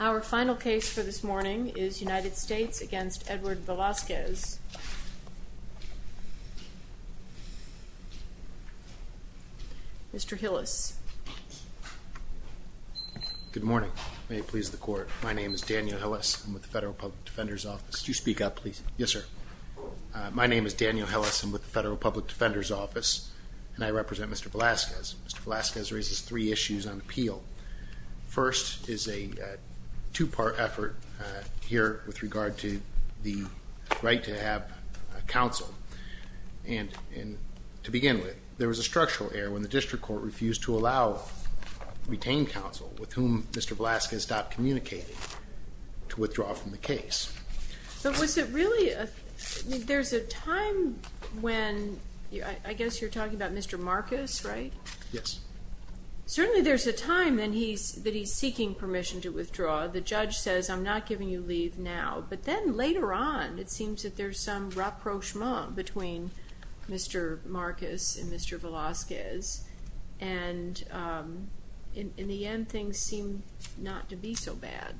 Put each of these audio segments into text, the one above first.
Our final case for this morning is United States v. Edward Velazquez. Mr. Hillis. Good morning. May it please the Court. My name is Daniel Hillis. I'm with the Federal Public Defender's Office. Could you speak up, please? Yes, sir. My name is Daniel Hillis. I'm with the Federal Public Defender's Office, and I represent Mr. Velazquez. Mr. Velazquez raises three issues on appeal. First is a two-part effort here with regard to the right to have counsel. And to begin with, there was a structural error when the District Court refused to allow retained counsel, with whom Mr. Velazquez stopped communicating, to withdraw from the case. But was it really a – there's a time when – I guess you're talking about Mr. Marcus, right? Yes. Certainly there's a time when he's – that he's seeking permission to withdraw. The judge says, I'm not giving you leave now. But then later on, it seems that there's some rapprochement between Mr. Marcus and Mr. Velazquez. And in the end, things seem not to be so bad.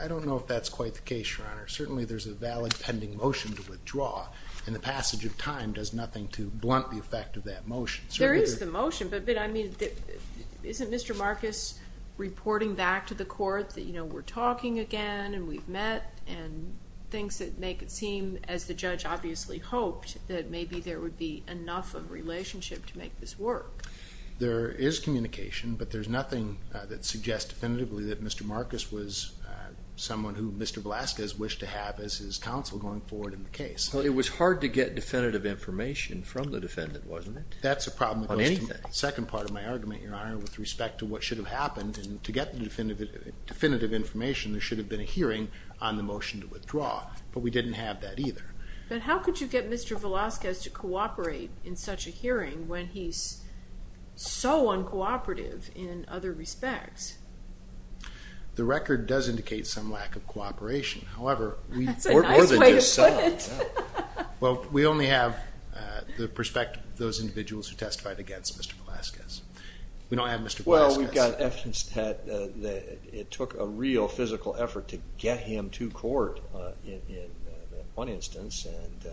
I don't know if that's quite the case, Your Honor. Certainly there's a valid pending motion to withdraw. And the passage of time does nothing to blunt the effect of that motion. There is the motion, but, I mean, isn't Mr. Marcus reporting back to the court that, you know, we're talking again and we've met and things that make it seem, as the judge obviously hoped, that maybe there would be enough of a relationship to make this work? There is communication, but there's nothing that suggests definitively that Mr. Marcus was someone who Mr. Velazquez wished to have as his counsel going forward in the case. Well, it was hard to get definitive information from the defendant, wasn't it? That's a problem that goes to the second part of my argument, Your Honor, with respect to what should have happened. And to get the definitive information, there should have been a hearing on the motion to withdraw. But we didn't have that either. But how could you get Mr. Velazquez to cooperate in such a hearing when he's so uncooperative in other respects? The record does indicate some lack of cooperation. That's a nice way to put it. Well, we only have the perspective of those individuals who testified against Mr. Velazquez. We don't have Mr. Velazquez. Well, we've got evidence that it took a real physical effort to get him to court in one instance, and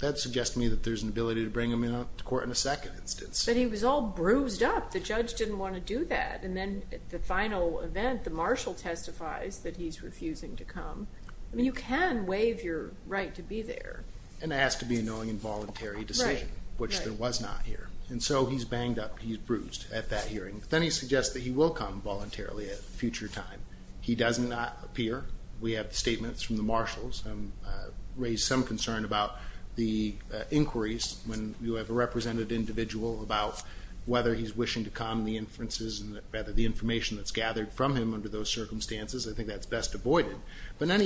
that suggests to me that there's an ability to bring him into court in a second instance. But he was all bruised up. The judge didn't want to do that. And then at the final event, the marshal testifies that he's refusing to come. I mean, you can waive your right to be there. And it has to be a knowing and voluntary decision, which there was not here. And so he's banged up, he's bruised at that hearing. Then he suggests that he will come voluntarily at a future time. He does not appear. We have statements from the marshals. I've raised some concern about the inquiries when you have a represented individual about whether he's wishing to come, the inferences, and rather the information that's gathered from him under those circumstances. I think that's best avoided. Can I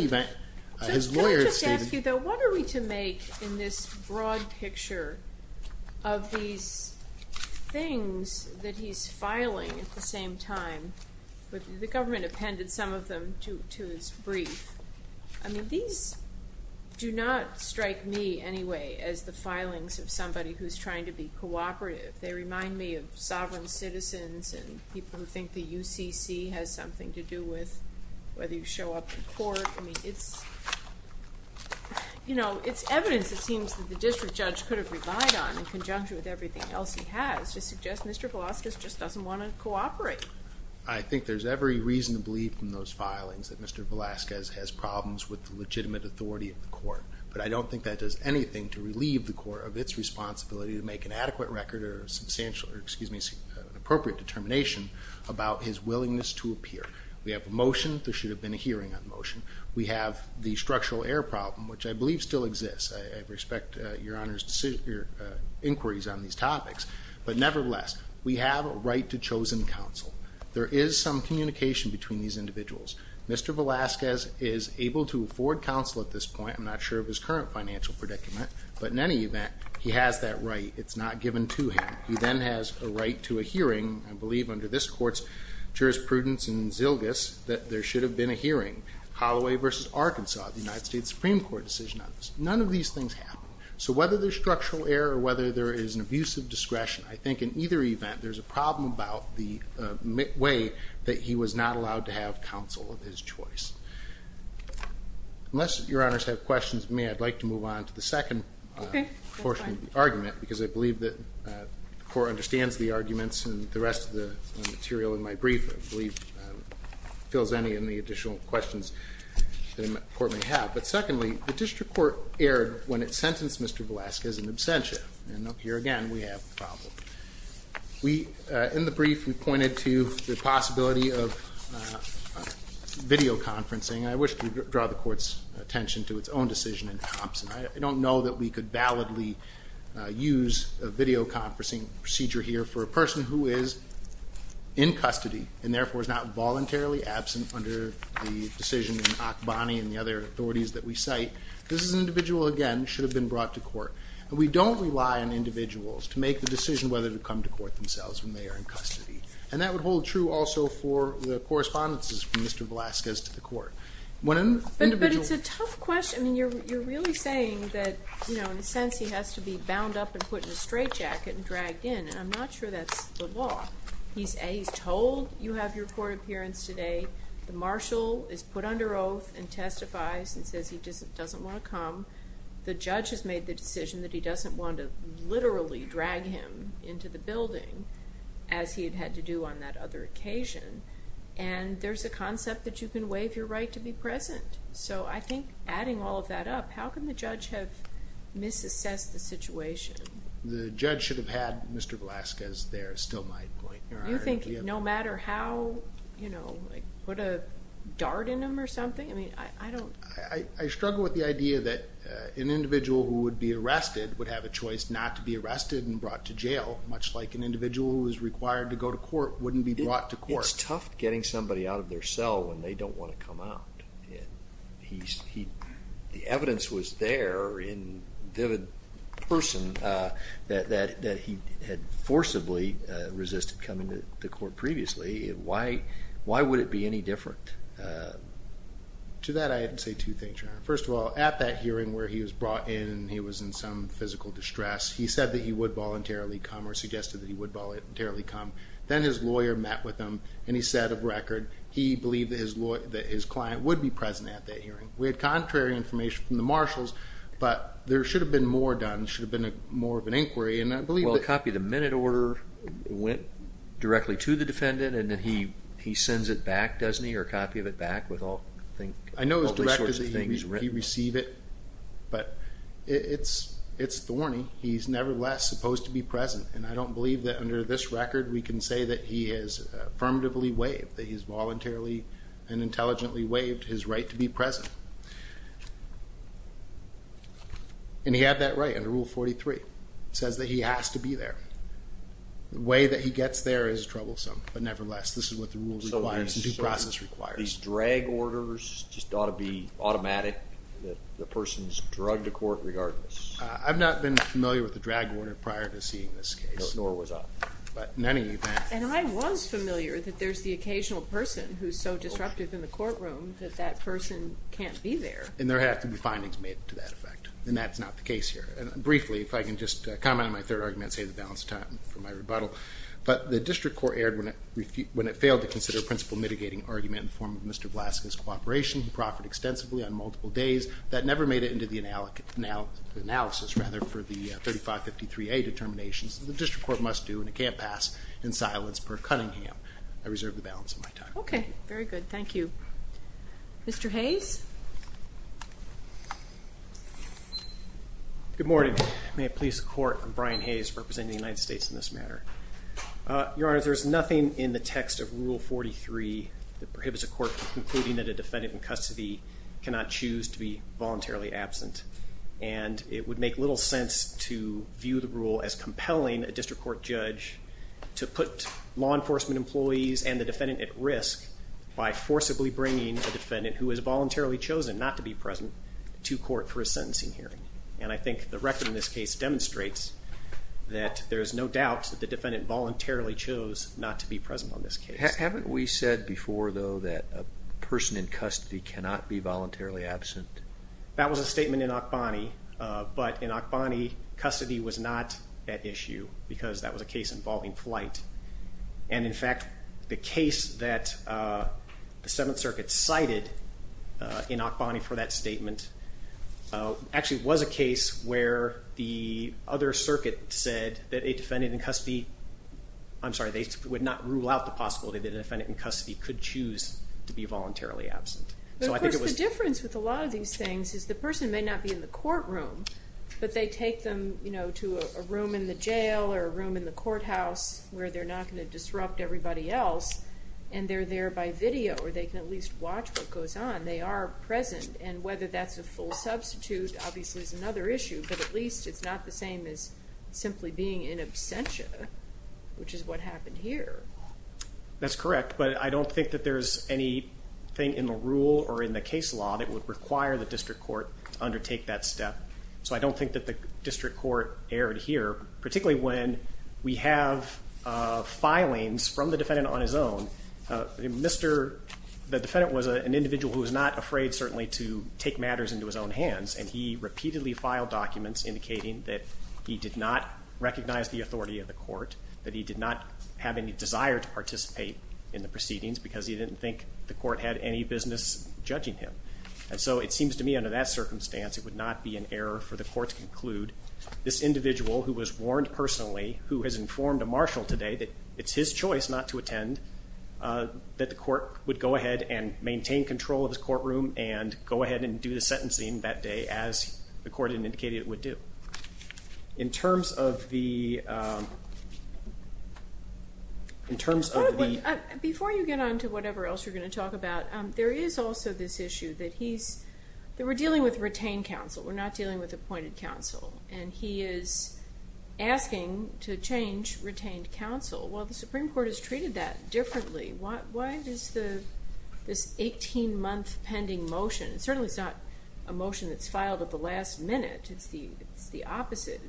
just ask you, though, what are we to make in this broad picture of these things that he's filing at the same time? The government appended some of them to his brief. I mean, these do not strike me anyway as the filings of somebody who's trying to be cooperative. They remind me of sovereign citizens and people who think the UCC has something to do with whether you show up in court. I mean, it's evidence, it seems, that the district judge could have relied on in conjunction with everything else he has to suggest Mr. Velazquez just doesn't want to cooperate. I think there's every reason to believe from those filings that Mr. Velazquez has problems with the legitimate authority of the court. But I don't think that does anything to relieve the court of its responsibility to make an adequate record or an appropriate determination about his willingness to appear. We have a motion. There should have been a hearing on the motion. We have the structural error problem, which I believe still exists. I respect Your Honor's inquiries on these topics. But nevertheless, we have a right to chosen counsel. There is some communication between these individuals. Mr. Velazquez is able to afford counsel at this point. I'm not sure of his current financial predicament. But in any event, he has that right. It's not given to him. He then has a right to a hearing. I believe under this court's jurisprudence and zilgas that there should have been a hearing. Holloway v. Arkansas, the United States Supreme Court decision on this. None of these things happen. So whether there's structural error or whether there is an abuse of discretion, I think in either event there's a problem about the way that he was not allowed to have counsel of his choice. Unless Your Honors have questions for me, I'd like to move on to the second portion of the argument because I believe that the court understands the arguments and the rest of the material in my brief, I believe, fills any of the additional questions that the court may have. But secondly, the district court erred when it sentenced Mr. Velazquez in absentia. And here again, we have a problem. In the brief, we pointed to the possibility of videoconferencing. I wish to draw the court's attention to its own decision in Thompson. I don't know that we could validly use a videoconferencing procedure here for a person who is in custody and therefore is not voluntarily absent under the decision in Akbani and the other authorities that we cite. This is an individual, again, should have been brought to court. And we don't rely on individuals to make the decision whether to come to court themselves when they are in custody. And that would hold true also for the correspondences from Mr. Velazquez to the court. But it's a tough question. You're really saying that, in a sense, he has to be bound up and put in a straitjacket and dragged in. And I'm not sure that's the law. He's told you have your court appearance today. The marshal is put under oath and testifies and says he doesn't want to come. The judge has made the decision that he doesn't want to literally drag him into the building, as he had had to do on that other occasion. And there's a concept that you can waive your right to be present. So I think adding all of that up, how can the judge have misassessed the situation? The judge should have had Mr. Velazquez there is still my point. Do you think no matter how, you know, like put a dart in him or something? I mean, I don't. I struggle with the idea that an individual who would be arrested would have a choice not to be arrested and brought to jail, much like an individual who is required to go to court wouldn't be brought to court. It's tough getting somebody out of their cell when they don't want to come out. The evidence was there in vivid person that he had forcibly resisted coming to court previously. Why would it be any different? To that I would say two things, Your Honor. First of all, at that hearing where he was brought in and he was in some physical distress, he said that he would voluntarily come or suggested that he would voluntarily come. Then his lawyer met with him, and he said of record he believed that his client would be present at that hearing. We had contrary information from the marshals, but there should have been more done. There should have been more of an inquiry. Well, a copy of the minute order went directly to the defendant, and then he sends it back, doesn't he, or a copy of it back with all these sorts of things written? I know his directive that he receive it, but it's thorny. He's nevertheless supposed to be present, and I don't believe that under this record we can say that he has affirmatively waived, that he's voluntarily and intelligently waived his right to be present. And he had that right under Rule 43. It says that he has to be there. The way that he gets there is troublesome, but nevertheless, this is what the rule requires and due process requires. So these drag orders just ought to be automatic, that the person's drugged to court regardless? I've not been familiar with the drag order prior to seeing this case. Nor was I. But in any event. And I was familiar that there's the occasional person who's so disruptive in the courtroom that that person can't be there. And there have to be findings made to that effect, and that's not the case here. And briefly, if I can just comment on my third argument and save the balance of time for my rebuttal, but the district court erred when it failed to consider a principle mitigating argument in the form of Mr. Vlaska's cooperation. He proffered extensively on multiple days. That never made it into the analysis, rather, for the 3553A determinations that the district court must do, and it can't pass in silence per Cunningham. I reserve the balance of my time. Okay. Very good. Thank you. Mr. Hayes? Good morning. May it please the Court, I'm Brian Hayes representing the United States in this matter. Your Honor, there's nothing in the text of Rule 43 that prohibits a court from concluding that a defendant in custody cannot choose to be voluntarily absent. And it would make little sense to view the rule as compelling a district court judge to put law enforcement employees and the defendant at risk by forcibly bringing a defendant who is voluntarily chosen not to be present to court for a sentencing hearing. And I think the record in this case demonstrates that there's no doubt that the defendant voluntarily chose not to be present on this case. Haven't we said before, though, that a person in custody cannot be voluntarily absent? That was a statement in Akbani. But in Akbani, custody was not at issue because that was a case involving flight. And, in fact, the case that the Seventh Circuit cited in Akbani for that statement actually was a case where the other circuit said that a defendant in custody, I'm sorry, they would not rule out the possibility that a defendant in custody could choose to be voluntarily absent. But, of course, the difference with a lot of these things is the person may not be in the courtroom, but they take them, you know, to a room in the jail or a room in the courthouse where they're not going to disrupt everybody else, and they're there by video, or they can at least watch what goes on. They are present, and whether that's a full substitute obviously is another issue, but at least it's not the same as simply being in absentia, which is what happened here. That's correct, but I don't think that there's anything in the rule or in the case law that would require the district court to undertake that step. So I don't think that the district court erred here, particularly when we have filings from the defendant on his own. The defendant was an individual who was not afraid, certainly, to take matters into his own hands, and he repeatedly filed documents indicating that he did not recognize the authority of the court, that he did not have any desire to participate in the proceedings because he didn't think the court had any business judging him. And so it seems to me under that circumstance it would not be an error for the court to conclude this individual who was warned personally, who has informed a marshal today that it's his choice not to attend, that the court would go ahead and maintain control of his courtroom and go ahead and do the sentencing that day as the court had indicated it would do. Before you get on to whatever else you're going to talk about, there is also this issue that we're dealing with retained counsel. We're not dealing with appointed counsel. And he is asking to change retained counsel. Well, the Supreme Court has treated that differently. Why does this 18-month pending motion, certainly it's not a motion that's filed at the last minute, it's the opposite,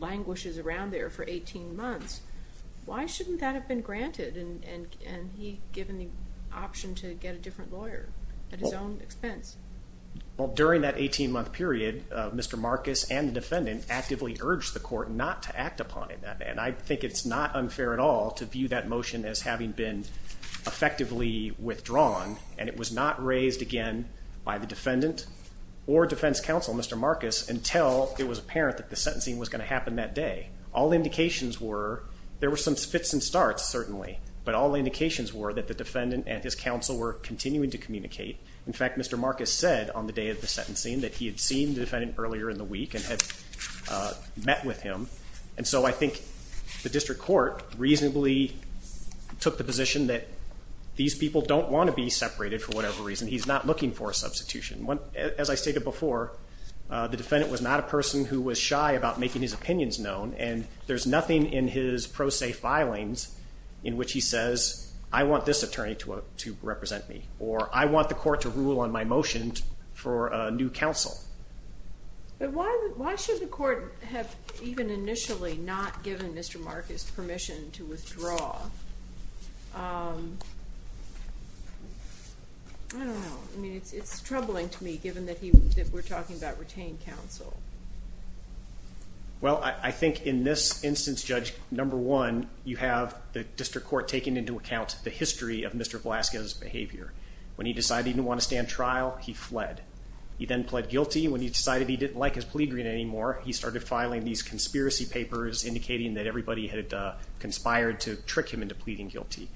languishes around there for 18 months. Why shouldn't that have been granted and he given the option to get a different lawyer at his own expense? Well, during that 18-month period, Mr. Marcus and the defendant actively urged the court not to act upon it. And I think it's not unfair at all to view that motion as having been effectively withdrawn and it was not raised again by the defendant or defense counsel, Mr. Marcus, until it was apparent that the sentencing was going to happen that day. All indications were there were some fits and starts certainly, but all indications were that the defendant and his counsel were continuing to communicate. In fact, Mr. Marcus said on the day of the sentencing that he had seen the defendant earlier in the week and had met with him. And so I think the district court reasonably took the position that these people don't want to be separated for whatever reason. He's not looking for a substitution. As I stated before, the defendant was not a person who was shy about making his opinions known, and there's nothing in his pro se filings in which he says, I want this attorney to represent me, or I want the court to rule on my motion for a new counsel. But why should the court have even initially not given Mr. Marcus permission to withdraw? I don't know. I mean, it's troubling to me, given that we're talking about retained counsel. Well, I think in this instance, Judge, number one, you have the district court taking into account the history of Mr. Velasquez's behavior. When he decided he didn't want to stand trial, he fled. He then pled guilty. When he decided he didn't like his plea agreement anymore, he started filing these conspiracy papers indicating that everybody had conspired to trick him into pleading guilty.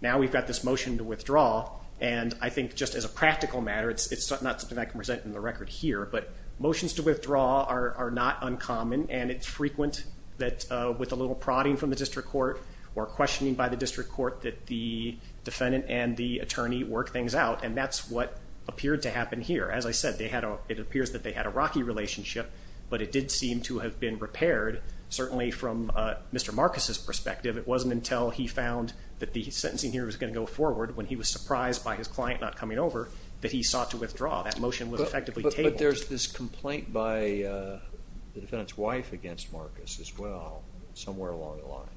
Now we've got this motion to withdraw, and I think just as a practical matter, it's not something I can present in the record here, but motions to withdraw are not uncommon, and it's frequent that with a little prodding from the district court or questioning by the district court that the defendant and the attorney work things out, and that's what appeared to happen here. As I said, it appears that they had a rocky relationship, but it did seem to have been repaired, certainly from Mr. Marcus's perspective. It wasn't until he found that the sentencing here was going to go forward, when he was surprised by his client not coming over, that he sought to withdraw. That motion was effectively tabled. But there's this complaint by the defendant's wife against Marcus as well, somewhere along the line.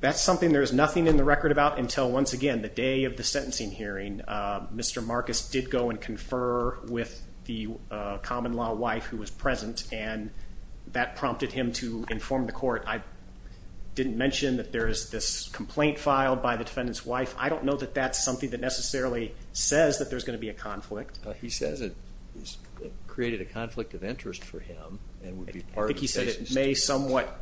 That's something there's nothing in the record about until, once again, the day of the sentencing hearing. Mr. Marcus did go and confer with the common law wife who was present, and that prompted him to inform the court. I didn't mention that there is this complaint filed by the defendant's wife. I don't know that that's something that necessarily says that there's going to be a conflict. He says it created a conflict of interest for him and would be part of the case. I think he said it may somewhat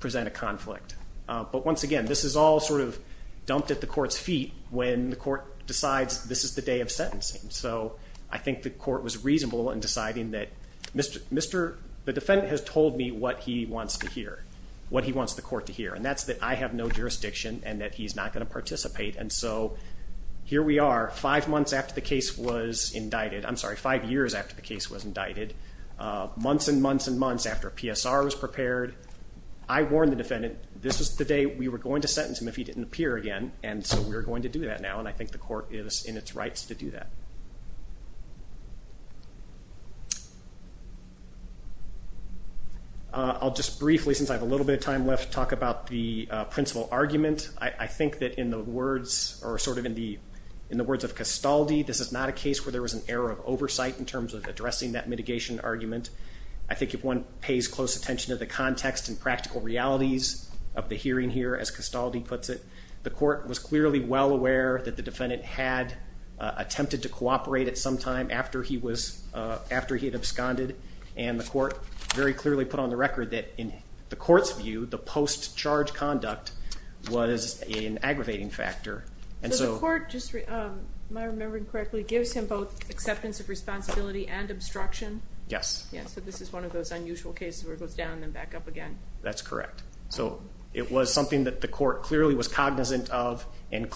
present a conflict. But once again, this is all sort of dumped at the court's feet when the court decides this is the day of sentencing. So I think the court was reasonable in deciding that the defendant has told me what he wants to hear, what he wants the court to hear, and that's that I have no jurisdiction and that he's not going to participate. And so here we are, five months after the case was indicted. I'm sorry, five years after the case was indicted, months and months and months after a PSR was prepared. I warned the defendant this was the day we were going to sentence him if he didn't appear again. And so we're going to do that now. And I think the court is in its rights to do that. I'll just briefly, since I have a little bit of time left, talk about the principal argument. I think that in the words or sort of in the words of Castaldi, this is not a case where there was an error of oversight in terms of addressing that mitigation argument. I think if one pays close attention to the context and practical realities of the hearing here, as Castaldi puts it, the court was clearly well aware that the defendant had attempted to cooperate at some time after he had absconded. And the court very clearly put on the record that in the court's view, the post-charge conduct was an aggravating factor. So the court, am I remembering correctly, gives him both acceptance of responsibility and obstruction? Yes. Yes, so this is one of those unusual cases where it goes down and then back up again. That's correct. So it was something that the court clearly was cognizant of and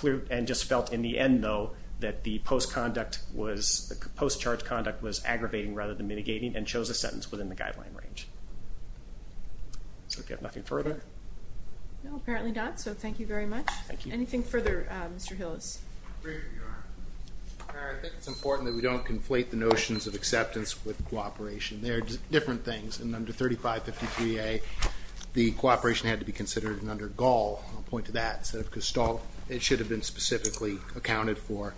just felt in the end, though, that the post-charge conduct was aggravating rather than mitigating and chose a sentence within the guideline range. So we have nothing further? No, apparently not. So thank you very much. Thank you. Anything further, Mr. Hillis? I think it's important that we don't conflate the notions of acceptance with cooperation. And under 3553A, the cooperation had to be considered. And under Gall, I'll point to that, instead of Gestalt, it should have been specifically accounted for.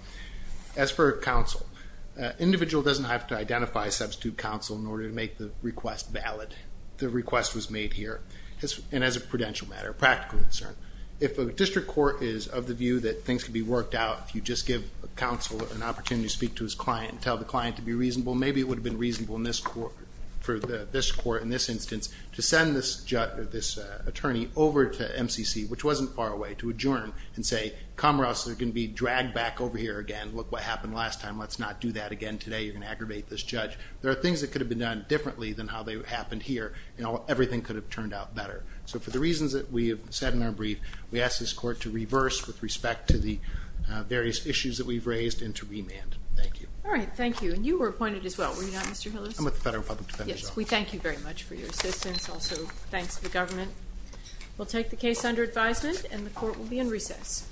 As for counsel, an individual doesn't have to identify a substitute counsel in order to make the request valid. The request was made here, and as a prudential matter, a practical concern. If a district court is of the view that things can be worked out, if you just give a counsel an opportunity to speak to his client and tell the client to be reasonable, maybe it would have been reasonable for this court in this instance to send this attorney over to MCC, which wasn't far away, to adjourn and say, Comrades, you're going to be dragged back over here again. Look what happened last time. Let's not do that again today. You're going to aggravate this judge. There are things that could have been done differently than how they happened here, and everything could have turned out better. So for the reasons that we have said in our brief, we ask this court to reverse with respect to the various issues that we've raised and to remand. Thank you. All right. Thank you. I'm with the Federal Public Defender's Office. We thank you very much for your assistance. Also, thanks to the government. We'll take the case under advisement, and the court will be in recess.